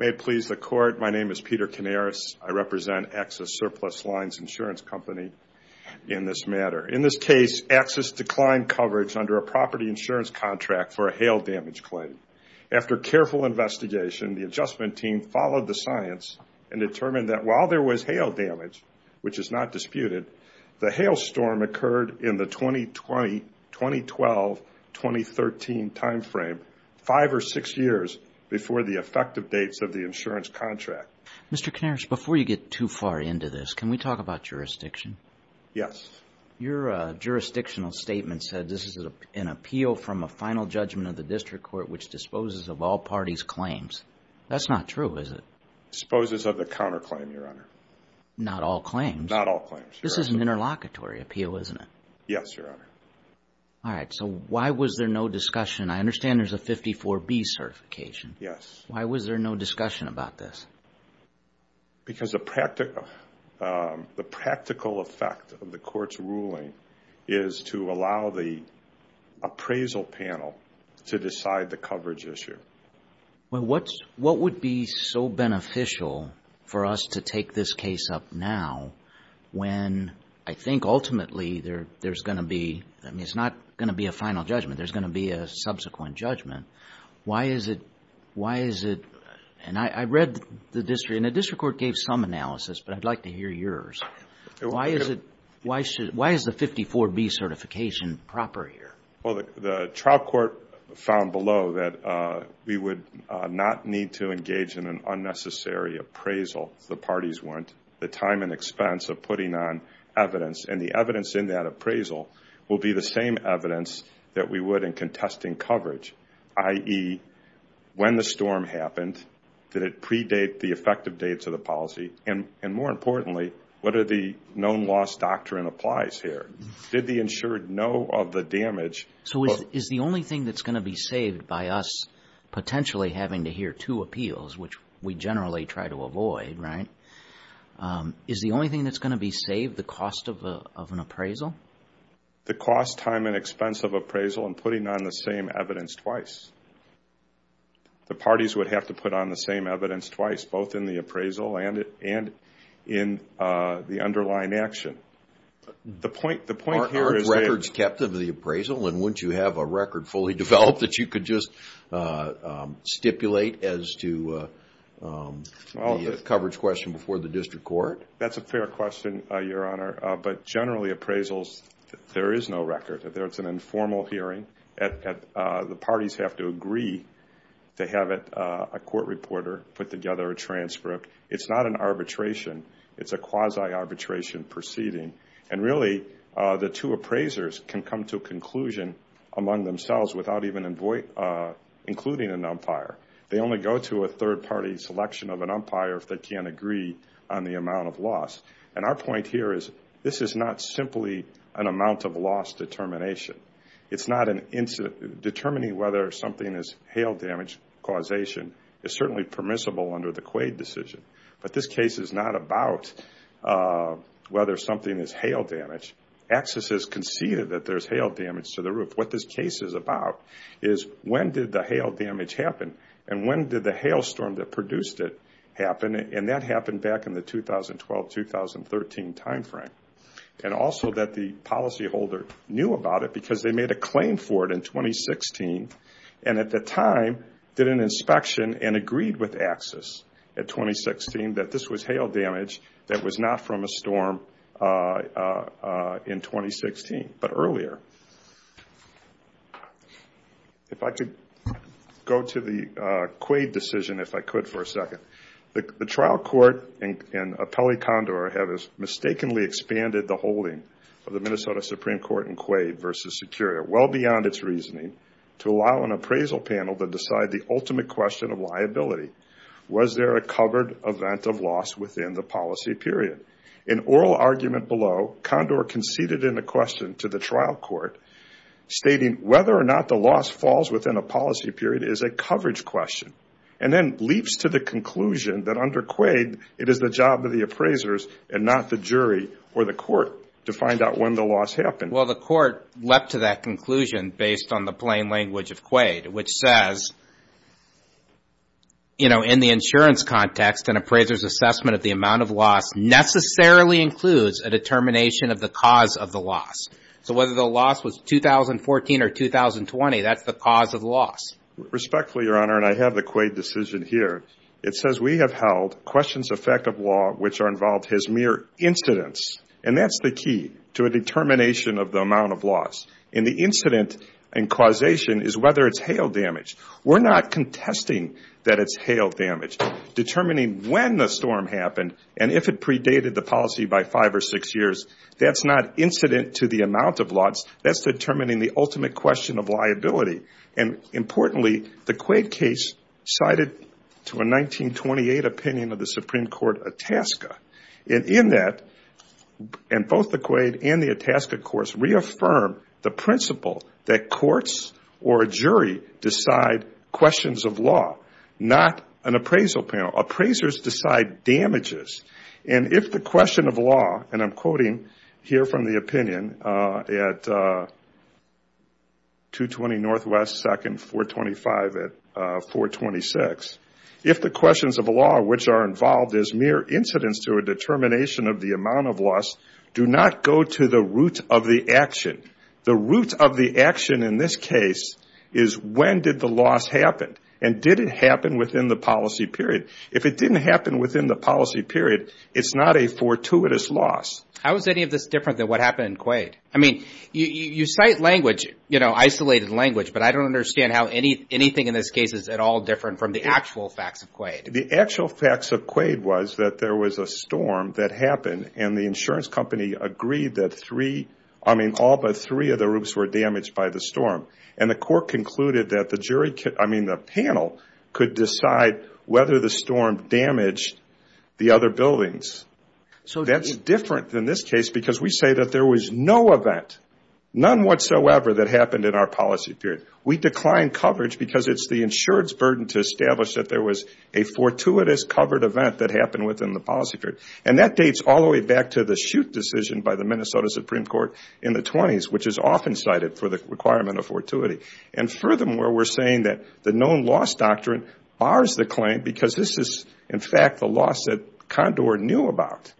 May it please the Court, my name is Peter Canaris. I represent Axis Surplus Lines Insurance Company in this matter. In this case, Axis declined coverage under a property insurance contract for a hail damage claim. After careful investigation, the adjustment team followed the science and determined that while there was hail damage, which is not disputed, the hail storm occurred in the 2020-2012-2013 timeframe, five or six years before the effective dates of the insurance contract. Mr. Canaris, before you get too far into this, can we talk about jurisdiction? Yes. Your jurisdictional statement said this is an appeal from a final judgment of the district court which disposes of all parties' claims. That's not true, is it? Disposes of the counterclaim, Your Honor. Not all claims? Not all claims, Your Honor. This is an interlocutory appeal, isn't it? Yes, Your Honor. All right, so why was there no discussion? I understand there's a 54B certification. Yes. Why was there no discussion about this? Because the practical effect of the court's ruling is to allow the appraisal panel to decide the coverage issue. Well, what would be so beneficial for us to take this case up now when I think ultimately there's going to be, I mean, it's not going to be a final judgment. There's going to be a subsequent judgment. Why is it, why is it, and I read the district, and the district court gave some analysis, but I'd like to hear yours. Why is it, why should, why is the 54B certification proper here? Well, the trial court found below that we would not need to engage in an unnecessary appraisal. The parties want the time and expense of putting on evidence. And the evidence in that appraisal will be the same evidence that we would in contesting coverage, i.e., when the storm happened. Did it predate the effective dates of the policy? And more importantly, what are the known loss doctrine applies here? Did the insured know of the damage? So is the only thing that's going to be saved by us potentially having to hear two appeals, which we generally try to avoid, right? Is the only thing that's going to be saved the cost of an appraisal? The cost, time, and expense of appraisal and putting on the same evidence twice. The parties would have to put on the same evidence twice, both in the appraisal and in the underlying action. The point here is that... Aren't records kept of the appraisal? And wouldn't you have a record fully developed that you could just stipulate as to the coverage question before the district court? That's a fair question, Your Honor. But generally, appraisals, there is no record. It's an informal hearing. The parties have to agree to have a court reporter put together a transcript. It's not an arbitration. It's a quasi-arbitration proceeding. And really, the two appraisers can come to a conclusion among themselves without even including an umpire. They only go to a third-party selection of an umpire if they can't agree on the amount of loss. And our point here is this is not simply an amount of loss determination. It's not an incident. Determining whether something is hail damage causation is certainly permissible under the Quaid decision. But this case is not about whether something is hail damage. AXIS has conceded that there's hail damage to the roof. What this case is about is when did the hail damage happen and when did the hailstorm that produced it happen? And that happened back in the 2012-2013 timeframe. And also that the policyholder knew about it because they made a claim for it in 2016 and at the time did an inspection and agreed with AXIS at 2016 that this was hail damage that was not from a storm in 2016, but earlier. If I could go to the Quaid decision, if I could for a second. The trial court in Apelli-Condor have mistakenly expanded the holding of the Minnesota Supreme Court in Quaid well beyond its reasoning to allow an appraisal panel to decide the ultimate question of liability. Was there a covered event of loss within the policy period? In oral argument below, Condor conceded in a question to the trial court stating whether or not the loss falls within a policy period is a coverage question. And then leaps to the conclusion that under Quaid it is the job of the appraisers and not the jury or the court to find out when the loss happened. Well, the court leapt to that conclusion based on the plain language of Quaid, which says, you know, in the insurance context, an appraiser's assessment of the amount of loss necessarily includes a determination of the cause of the loss. So whether the loss was 2014 or 2020, that's the cause of loss. Respectfully, Your Honor, and I have the Quaid decision here. It says we have held questions of fact of law which are involved as mere incidents. And that's the key to a determination of the amount of loss. And the incident and causation is whether it's hail damage. We're not contesting that it's hail damage. Determining when the storm happened and if it predated the policy by five or six years, that's not incident to the amount of loss. That's determining the ultimate question of liability. And importantly, the Quaid case sided to a 1928 opinion of the Supreme Court, Itasca. And in that, and both the Quaid and the Itasca courts reaffirm the principle that courts or a jury decide questions of law, not an appraisal panel. Appraisers decide damages. And if the question of law, and I'm quoting here from the opinion at 220 Northwest 2nd, 425 at 426, if the questions of law which are involved as mere incidents to a determination of the amount of loss do not go to the root of the action. The root of the action in this case is when did the loss happen and did it happen within the policy period. If it didn't happen within the policy period, it's not a fortuitous loss. How is any of this different than what happened in Quaid? I mean, you cite language, you know, isolated language. But I don't understand how anything in this case is at all different from the actual facts of Quaid. The actual facts of Quaid was that there was a storm that happened. And the insurance company agreed that three, I mean, all but three of the roofs were damaged by the storm. And the court concluded that the jury, I mean, the panel could decide whether the storm damaged the other buildings. So that's different than this case because we say that there was no event, none whatsoever that happened in our policy period. We declined coverage because it's the insurance burden to establish that there was a fortuitous covered event that happened within the policy period. And that dates all the way back to the shoot decision by the Minnesota Supreme Court in the 20s, which is often cited for the requirement of fortuity. And furthermore, we're saying that the known loss doctrine bars the claim because this is, in fact, the loss that Condor knew about.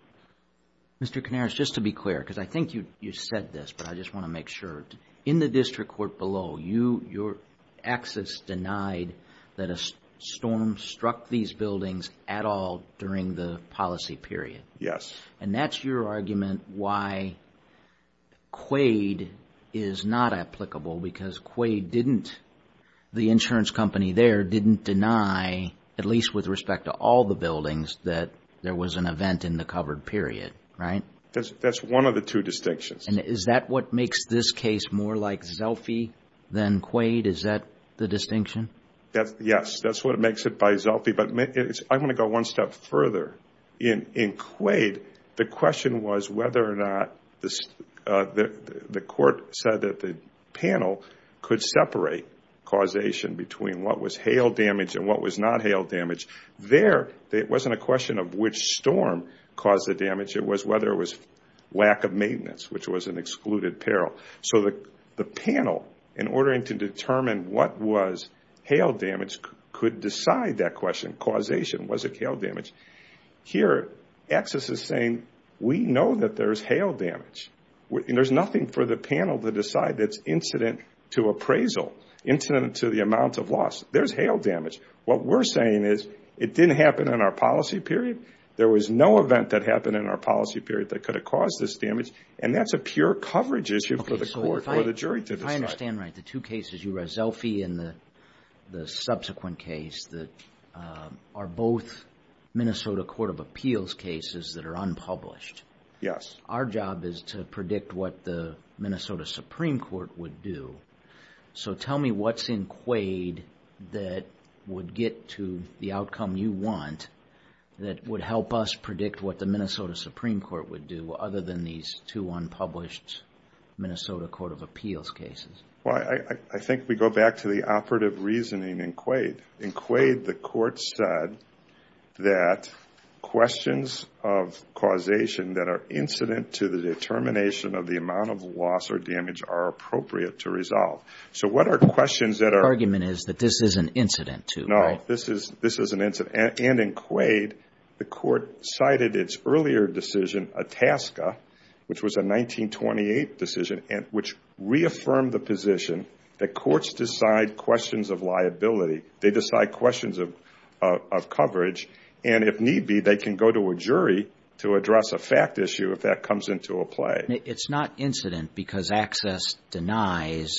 Mr. Canaris, just to be clear, because I think you said this, but I just want to make sure. In the district court below, your access denied that a storm struck these buildings at all during the policy period. Yes. And that's your argument why Quaid is not applicable because Quaid didn't, the insurance company there didn't deny, at least with respect to all the buildings, that there was an event in the covered period, right? That's one of the two distinctions. And is that what makes this case more like Zelfie than Quaid? Is that the distinction? Yes, that's what makes it by Zelfie. But I want to go one step further. In Quaid, the question was whether or not the court said that the panel could separate causation between what was hail damage and what was not hail damage. There, it wasn't a question of which storm caused the damage. It was whether it was lack of maintenance, which was an excluded peril. So the panel, in order to determine what was hail damage, could decide that question, causation. Was it hail damage? Here, access is saying, we know that there's hail damage. There's nothing for the panel to decide that's incident to appraisal, incident to the amount of loss. There's hail damage. What we're saying is it didn't happen in our policy period. There was no event that happened in our policy period that could have caused this damage. And that's a pure coverage issue for the court or the jury to decide. Okay, so if I understand right, the two cases, you have Zelfie and the subsequent case, that are both Minnesota Court of Appeals cases that are unpublished. Yes. Our job is to predict what the Minnesota Supreme Court would do. So tell me what's in Quaid that would get to the outcome you want that would help us predict what the Minnesota Supreme Court would do, other than these two unpublished Minnesota Court of Appeals cases. Well, I think we go back to the operative reasoning in Quaid. In Quaid, the court said that questions of causation that are incident to the determination of the amount of loss or damage are appropriate to resolve. So what are questions that are… The argument is that this is an incident to, right? No, this is an incident. And in Quaid, the court cited its earlier decision, Itasca, which was a 1928 decision, which reaffirmed the position that courts decide questions of liability. They decide questions of coverage. And if need be, they can go to a jury to address a fact issue if that comes into a play. It's not incident because Access denies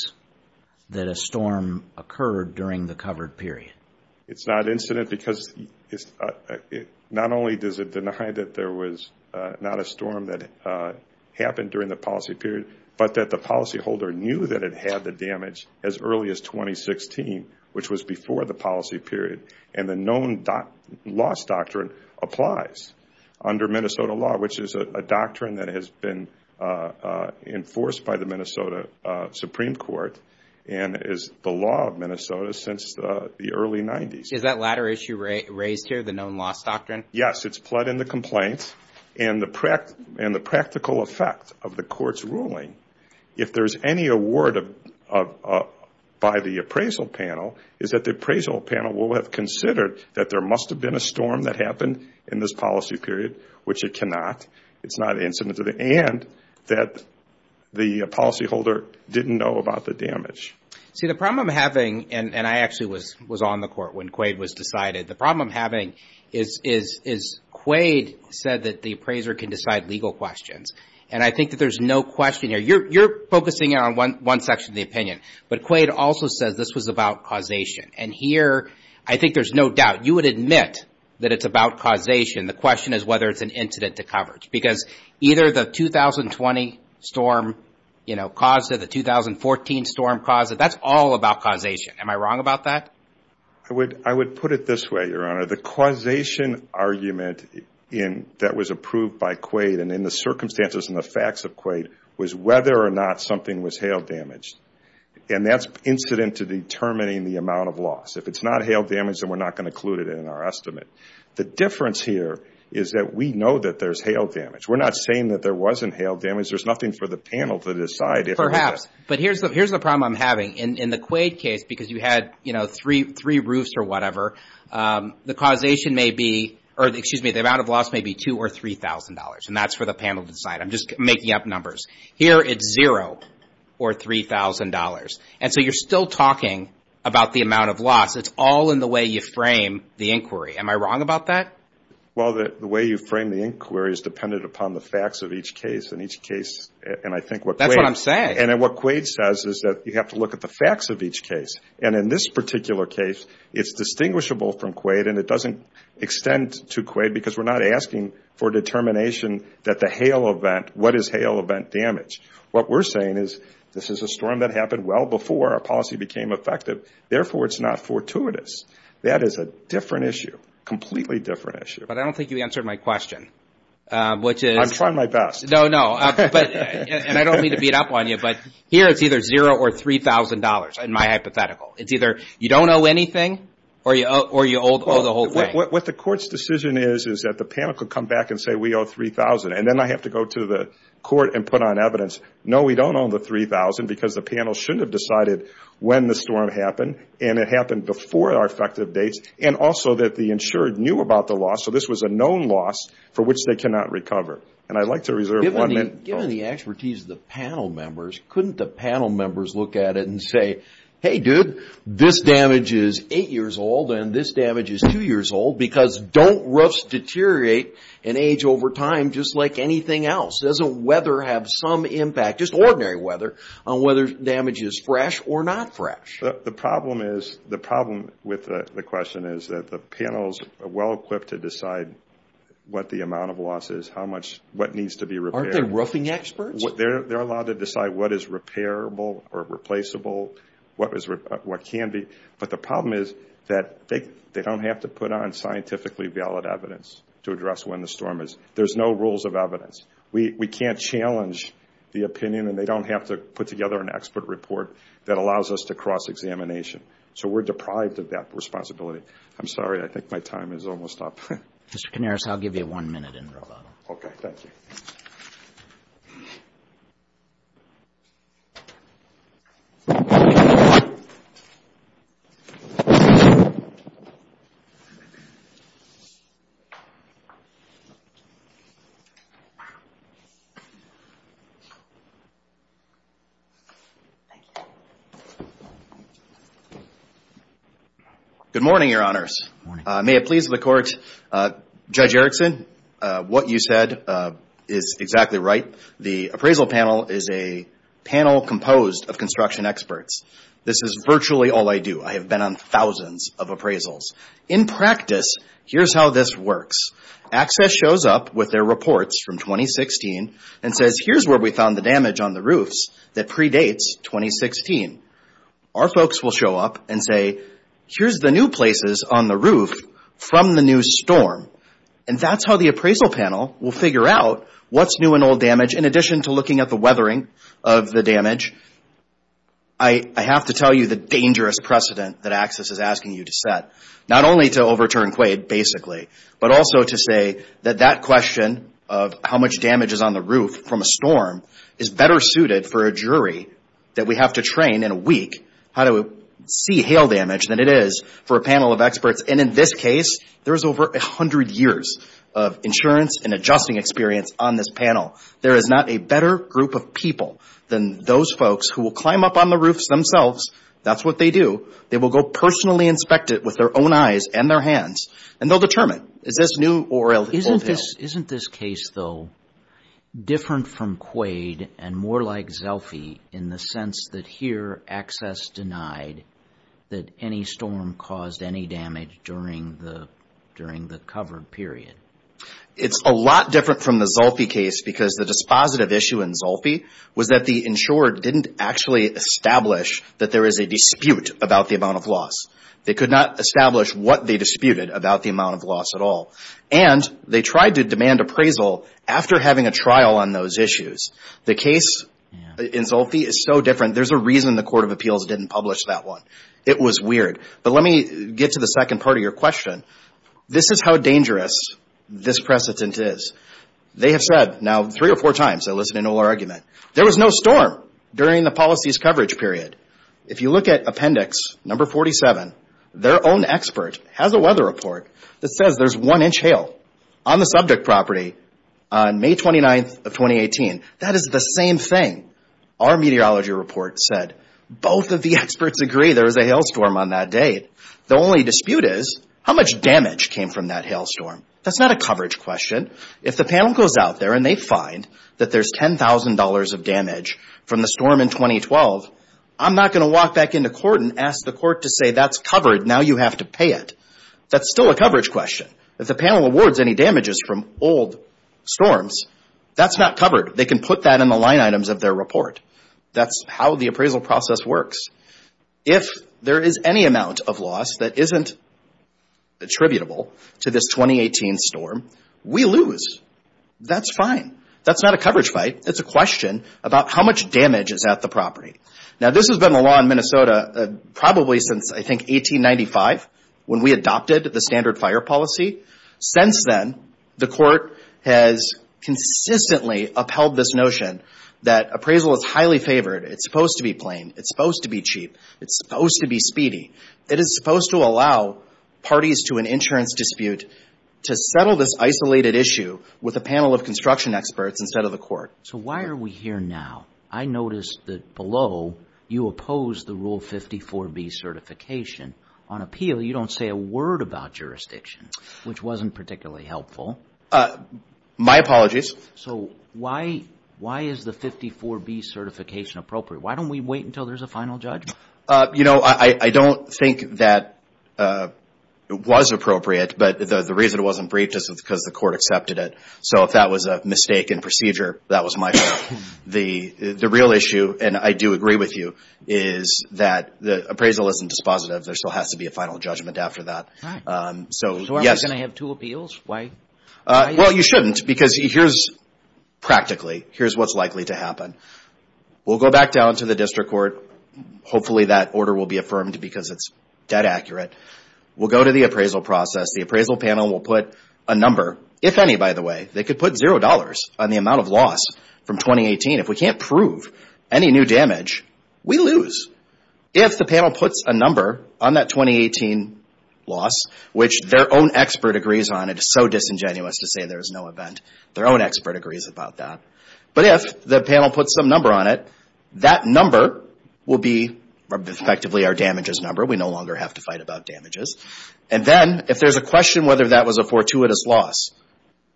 that a storm occurred during the covered period. It's not incident because not only does it deny that there was not a storm that happened during the policy period, but that the policyholder knew that it had the damage as early as 2016, which was before the policy period. And the known loss doctrine applies under Minnesota law, which is a doctrine that has been enforced by the Minnesota Supreme Court and is the law of Minnesota since the early 90s. Is that latter issue raised here, the known loss doctrine? Yes, it's pled in the complaint. And the practical effect of the court's ruling, if there's any award by the appraisal panel, is that the appraisal panel will have considered that there must have been a storm that happened in this policy period, which it cannot. It's not incident. And that the policyholder didn't know about the damage. See, the problem I'm having, and I actually was on the court when Quaid was decided, the problem I'm having is Quaid said that the appraiser can decide legal questions. And I think that there's no question here. You're focusing on one section of the opinion. But Quaid also says this was about causation. And here I think there's no doubt. You would admit that it's about causation. The question is whether it's an incident to coverage. Because either the 2020 storm caused it, the 2014 storm caused it, that's all about causation. Am I wrong about that? I would put it this way, Your Honor. The causation argument that was approved by Quaid and in the circumstances and the facts of Quaid was whether or not something was hail damaged. And that's incident to determining the amount of loss. If it's not hail damage, then we're not going to include it in our estimate. The difference here is that we know that there's hail damage. We're not saying that there wasn't hail damage. There's nothing for the panel to decide. Perhaps. But here's the problem I'm having. In the Quaid case, because you had, you know, three roofs or whatever, the causation may be or, excuse me, the amount of loss may be $2,000 or $3,000. And that's for the panel to decide. I'm just making up numbers. Here it's zero or $3,000. And so you're still talking about the amount of loss. It's all in the way you frame the inquiry. Am I wrong about that? Well, the way you frame the inquiry is dependent upon the facts of each case. And each case, and I think what Quaid. That's what I'm saying. And what Quaid says is that you have to look at the facts of each case. And in this particular case, it's distinguishable from Quaid and it doesn't extend to Quaid because we're not asking for determination that the Hale event, what is Hale event damage. What we're saying is this is a storm that happened well before our policy became effective. Therefore, it's not fortuitous. That is a different issue, completely different issue. But I don't think you answered my question, which is. I'm trying my best. No, no. And I don't mean to beat up on you, but here it's either zero or $3,000 in my hypothetical. It's either you don't owe anything or you owe the whole thing. What the court's decision is is that the panel could come back and say we owe $3,000. And then I have to go to the court and put on evidence. No, we don't owe the $3,000 because the panel shouldn't have decided when the storm happened. And it happened before our effective dates. And also that the insured knew about the loss. So this was a known loss for which they cannot recover. And I'd like to reserve one minute. Given the expertise of the panel members, couldn't the panel members look at it and say, Hey, dude, this damage is eight years old and this damage is two years old. Because don't roofs deteriorate and age over time just like anything else? Doesn't weather have some impact, just ordinary weather, on whether damage is fresh or not fresh? The problem with the question is that the panel's well-equipped to decide what the amount of loss is, what needs to be repaired. Aren't they roofing experts? They're allowed to decide what is repairable or replaceable, what can be. But the problem is that they don't have to put on scientifically valid evidence to address when the storm is. There's no rules of evidence. We can't challenge the opinion, and they don't have to put together an expert report that allows us to cross-examination. So we're deprived of that responsibility. I'm sorry, I think my time is almost up. Mr. Canaris, I'll give you one minute in rebuttal. Okay, thank you. Good morning, Your Honors. Good morning. May it please the Court, Judge Erickson, what you said is exactly right. The appraisal panel is a panel composed of construction experts. This is virtually all I do. I have been on thousands of appraisals. In practice, here's how this works. ACCESS shows up with their reports from 2016 and says, here's where we found the damage on the roofs that predates 2016. Our folks will show up and say, here's the new places on the roof from the new storm. And that's how the appraisal panel will figure out what's new and old damage, in addition to looking at the weathering of the damage. I have to tell you the dangerous precedent that ACCESS is asking you to set, not only to overturn Quaid, basically, but also to say that that question of how much damage is on the roof from a storm is better suited for a jury that we have to train in a week how to see hail damage than it is for a panel of experts. And in this case, there's over 100 years of insurance and adjusting experience on this panel. There is not a better group of people than those folks who will climb up on the roofs themselves. That's what they do. They will go personally inspect it with their own eyes and their hands, and they'll determine, is this new or old hail. Isn't this case, though, different from Quaid and more like Zulfi in the sense that here ACCESS denied that any storm caused any damage during the covered period? It's a lot different from the Zulfi case because the dispositive issue in Zulfi was that the insurer didn't actually establish that there is a dispute about the amount of loss. They could not establish what they disputed about the amount of loss at all. And they tried to demand appraisal after having a trial on those issues. The case in Zulfi is so different. There's a reason the Court of Appeals didn't publish that one. It was weird. But let me get to the second part of your question. This is how dangerous this precedent is. They have said now three or four times, I listen to no more argument, there was no storm during the policy's coverage period. If you look at appendix number 47, their own expert has a weather report that says there's one inch hail on the subject property on May 29th of 2018. That is the same thing our meteorology report said. Both of the experts agree there was a hailstorm on that date. The only dispute is how much damage came from that hailstorm. That's not a coverage question. If the panel goes out there and they find that there's $10,000 of damage from the storm in 2012, I'm not going to walk back into court and ask the court to say that's covered, now you have to pay it. That's still a coverage question. If the panel awards any damages from old storms, that's not covered. They can put that in the line items of their report. That's how the appraisal process works. If there is any amount of loss that isn't attributable to this 2018 storm, we lose. That's fine. That's not a coverage fight. It's a question about how much damage is at the property. Now, this has been the law in Minnesota probably since, I think, 1895 when we adopted the standard fire policy. Since then, the court has consistently upheld this notion that appraisal is highly favored. It's supposed to be plain. It's supposed to be cheap. It's supposed to be speedy. It is supposed to allow parties to an insurance dispute to settle this isolated issue with a panel of construction experts instead of the court. So why are we here now? I noticed that below, you oppose the Rule 54B certification. On appeal, you don't say a word about jurisdiction, which wasn't particularly helpful. My apologies. So why is the 54B certification appropriate? Why don't we wait until there's a final judgment? You know, I don't think that it was appropriate, but the reason it wasn't briefed is because the court accepted it. So if that was a mistake in procedure, that was my fault. The real issue, and I do agree with you, is that appraisal isn't dispositive. There still has to be a final judgment after that. So are we going to have two appeals? Why? Well, you shouldn't because here's practically, here's what's likely to happen. We'll go back down to the district court. Hopefully, that order will be affirmed because it's dead accurate. We'll go to the appraisal process. The appraisal panel will put a number, if any, by the way. They could put $0 on the amount of loss from 2018. If we can't prove any new damage, we lose. If the panel puts a number on that 2018 loss, which their own expert agrees on, it is so disingenuous to say there is no event. Their own expert agrees about that. But if the panel puts some number on it, that number will be effectively our damages number. We no longer have to fight about damages. And then if there's a question whether that was a fortuitous loss,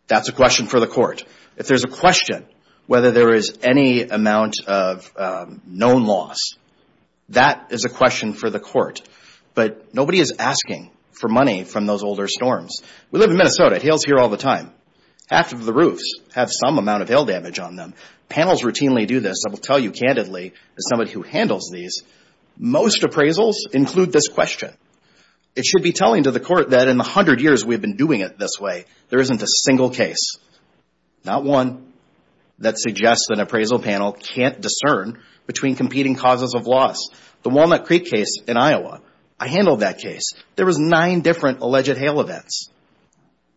that's a question for the court. If there's a question whether there is any amount of known loss, that is a question for the court. But nobody is asking for money from those older storms. We live in Minnesota. It hails here all the time. Half of the roofs have some amount of hail damage on them. Panels routinely do this. I will tell you candidly, as somebody who handles these, most appraisals include this question. It should be telling to the court that in the hundred years we've been doing it this way, there isn't a single case, not one, that suggests an appraisal panel can't discern between competing causes of loss. The Walnut Creek case in Iowa, I handled that case. There was nine different alleged hail events.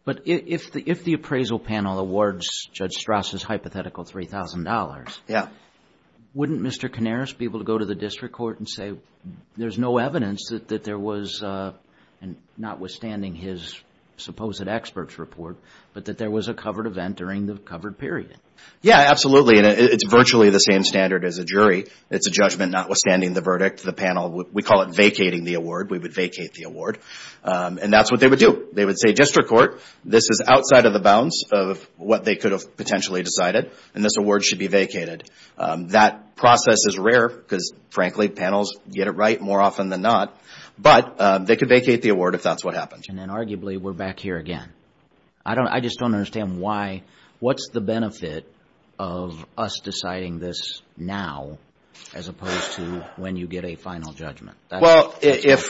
But if the appraisal panel awards Judge Strauss's hypothetical $3,000, wouldn't Mr. Canaris be able to go to the district court and say, there's no evidence that there was, notwithstanding his supposed expert's report, but that there was a covered event during the covered period? Yeah, absolutely. It's virtually the same standard as a jury. It's a judgment notwithstanding the verdict. The panel, we call it vacating the award. We would vacate the award. And that's what they would do. They would say, district court, this is outside of the bounds of what they could have potentially decided, and this award should be vacated. That process is rare because, frankly, panels get it right more often than not. But they could vacate the award if that's what happens. And then arguably we're back here again. I just don't understand why. What's the benefit of us deciding this now as opposed to when you get a final judgment? Well, if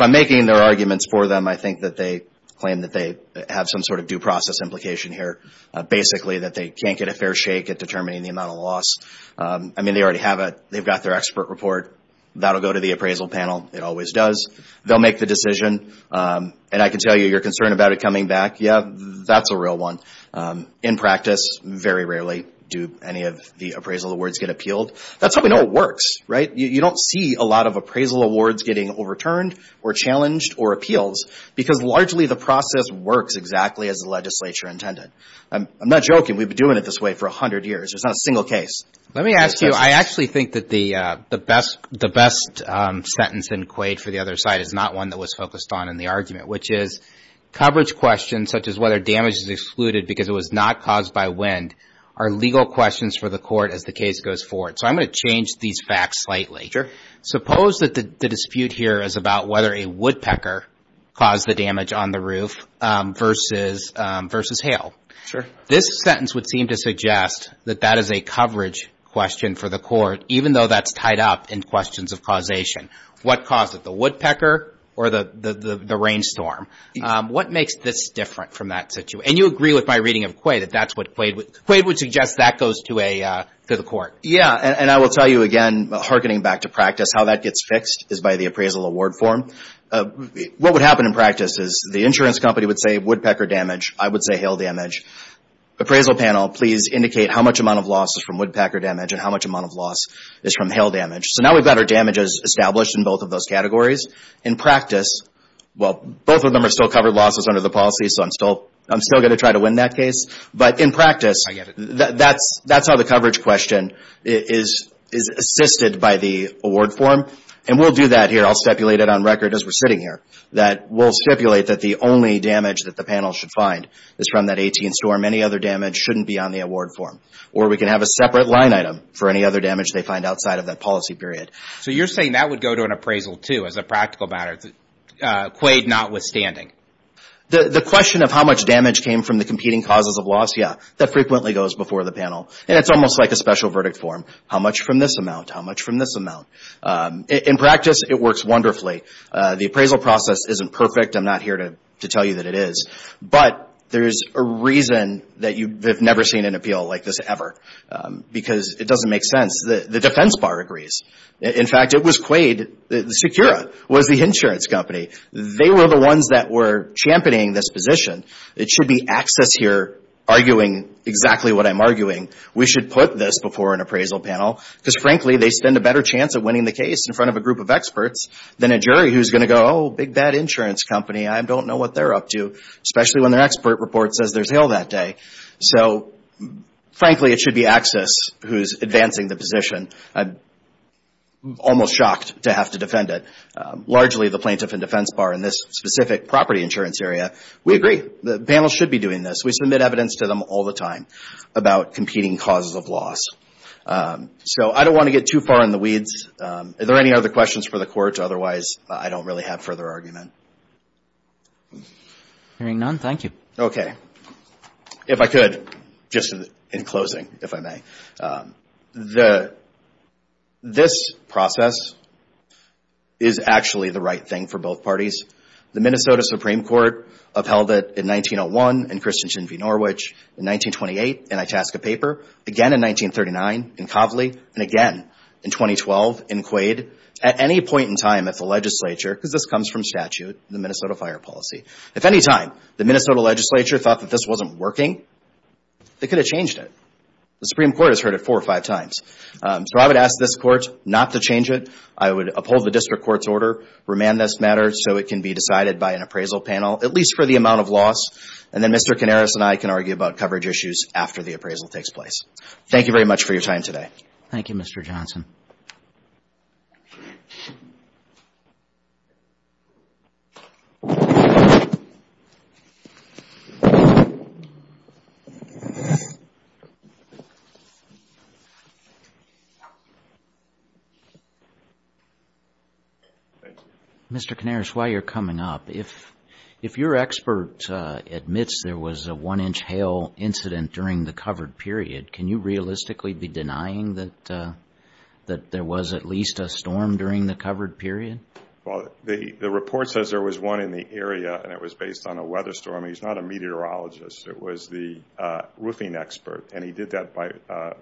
I'm making their arguments for them, I think that they claim that they have some sort of due process implication here, basically that they can't get a fair shake at determining the amount of loss. I mean, they already have it. They've got their expert report. That will go to the appraisal panel. It always does. They'll make the decision. And I can tell you you're concerned about it coming back. Yeah, that's a real one. In practice, very rarely do any of the appraisal awards get appealed. That's how we know it works, right? You don't see a lot of appraisal awards getting overturned or challenged or appealed because largely the process works exactly as the legislature intended. I'm not joking. We've been doing it this way for 100 years. There's not a single case. Let me ask you, I actually think that the best sentence in Quaid for the other side is not one that was focused on in the argument, which is coverage questions such as whether damage is excluded because it was not caused by wind are legal questions for the court as the case goes forward. So I'm going to change these facts slightly. Sure. Suppose that the dispute here is about whether a woodpecker caused the damage on the roof versus hail. Sure. This sentence would seem to suggest that that is a coverage question for the court, even though that's tied up in questions of causation. What caused it, the woodpecker or the rainstorm? What makes this different from that situation? And you agree with my reading of Quaid that that's what Quaid would suggest that goes to the court. Yeah, and I will tell you again, hearkening back to practice, how that gets fixed is by the appraisal award form. What would happen in practice is the insurance company would say woodpecker damage. I would say hail damage. Appraisal panel, please indicate how much amount of loss is from woodpecker damage and how much amount of loss is from hail damage. So now we've got our damages established in both of those categories. In practice, well, both of them are still covered losses under the policy, so I'm still going to try to win that case. But in practice, that's not a coverage question. It is assisted by the award form, and we'll do that here. I'll stipulate it on record as we're sitting here, that we'll stipulate that the only damage that the panel should find is from that 18th storm. Any other damage shouldn't be on the award form, or we can have a separate line item for any other damage they find outside of that policy period. So you're saying that would go to an appraisal, too, as a practical matter, Quaid notwithstanding? The question of how much damage came from the competing causes of loss, yeah. That frequently goes before the panel, and it's almost like a special verdict form. How much from this amount? How much from this amount? In practice, it works wonderfully. The appraisal process isn't perfect. I'm not here to tell you that it is. But there's a reason that you have never seen an appeal like this ever, because it doesn't make sense. The defense bar agrees. In fact, it was Quaid, Secura was the insurance company. They were the ones that were championing this position. It should be Axis here arguing exactly what I'm arguing. We should put this before an appraisal panel because, frankly, they stand a better chance of winning the case in front of a group of experts than a jury who's going to go, oh, big bad insurance company. I don't know what they're up to, especially when their expert report says there's hail that day. So, frankly, it should be Axis who's advancing the position. I'm almost shocked to have to defend it. Largely the plaintiff and defense bar in this specific property insurance area. We agree. The panel should be doing this. We submit evidence to them all the time about competing causes of loss. So I don't want to get too far in the weeds. Are there any other questions for the court? Otherwise, I don't really have further argument. Hearing none, thank you. Okay. If I could, just in closing, if I may. This process is actually the right thing for both parties. The Minnesota Supreme Court upheld it in 1901 in Christensen v. Norwich, in 1928 in Itasca Paper, again in 1939 in Coveley, and again in 2012 in Quaid. At any point in time at the legislature, because this comes from statute, the Minnesota fire policy, if any time the Minnesota legislature thought that this wasn't working, they could have changed it. The Supreme Court has heard it four or five times. So I would ask this court not to change it. I would uphold the district court's order, remand this matter so it can be decided by an appraisal panel, at least for the amount of loss, and then Mr. Canaris and I can argue about coverage issues after the appraisal takes place. Thank you very much for your time today. Thank you, Mr. Johnson. Thank you. Mr. Canaris, while you're coming up, if your expert admits there was a one-inch hail incident during the covered period, can you realistically be denying that there was at least a storm during the covered period? Well, the report says there was one in the area, and it was based on a weather storm. He's not a meteorologist. It was the roofing expert, and he did that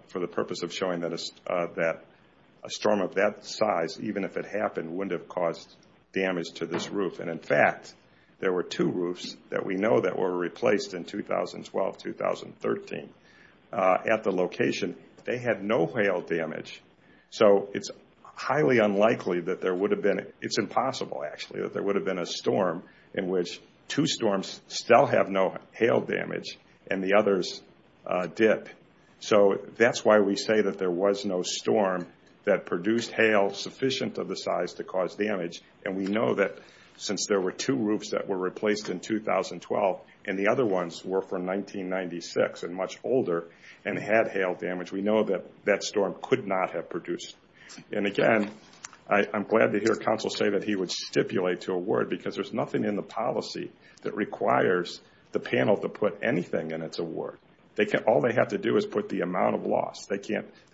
for the purpose of showing that a storm of that size, even if it happened, wouldn't have caused damage to this roof. In fact, there were two roofs that we know that were replaced in 2012-2013 at the location. They had no hail damage, so it's highly unlikely that there would have been. It's impossible, actually, that there would have been a storm in which two storms still have no hail damage and the others dip. So that's why we say that there was no storm that produced hail sufficient of the size to cause damage, and we know that since there were two roofs that were replaced in 2012 and the other ones were from 1996 and much older and had hail damage, we know that that storm could not have produced. And again, I'm glad to hear Council say that he would stipulate to award, because there's nothing in the policy that requires the panel to put anything in its award. All they have to do is put the amount of loss. They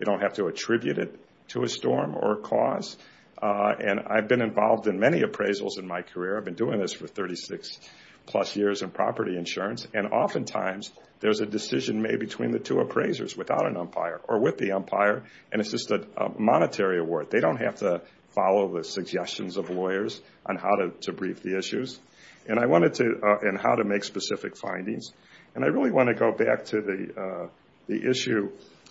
don't have to attribute it to a storm or a cause. And I've been involved in many appraisals in my career. I've been doing this for 36-plus years in property insurance, and oftentimes there's a decision made between the two appraisers without an umpire or with the umpire, and it's just a monetary award. They don't have to follow the suggestions of lawyers on how to brief the issues and how to make specific findings. And I really want to go back to the issue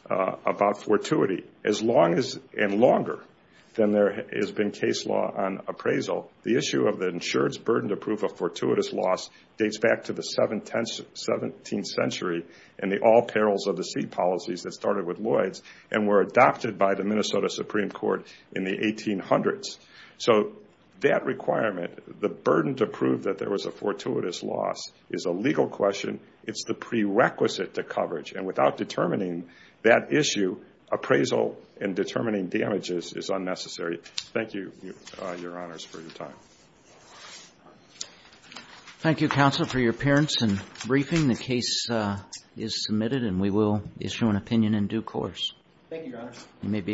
about fortuity. As long and longer than there has been case law on appraisal, the issue of the insurance burden to prove a fortuitous loss dates back to the 17th century and the all-perils-of-the-sea policies that started with Lloyds and were adopted by the Minnesota Supreme Court in the 1800s. So that requirement, the burden to prove that there was a fortuitous loss, is a legal question. It's the prerequisite to coverage. And without determining that issue, appraisal and determining damages is unnecessary. Thank you, Your Honors, for your time. Thank you, Counsel, for your appearance and briefing. The case is submitted, and we will issue an opinion in due course. Thank you, Your Honors.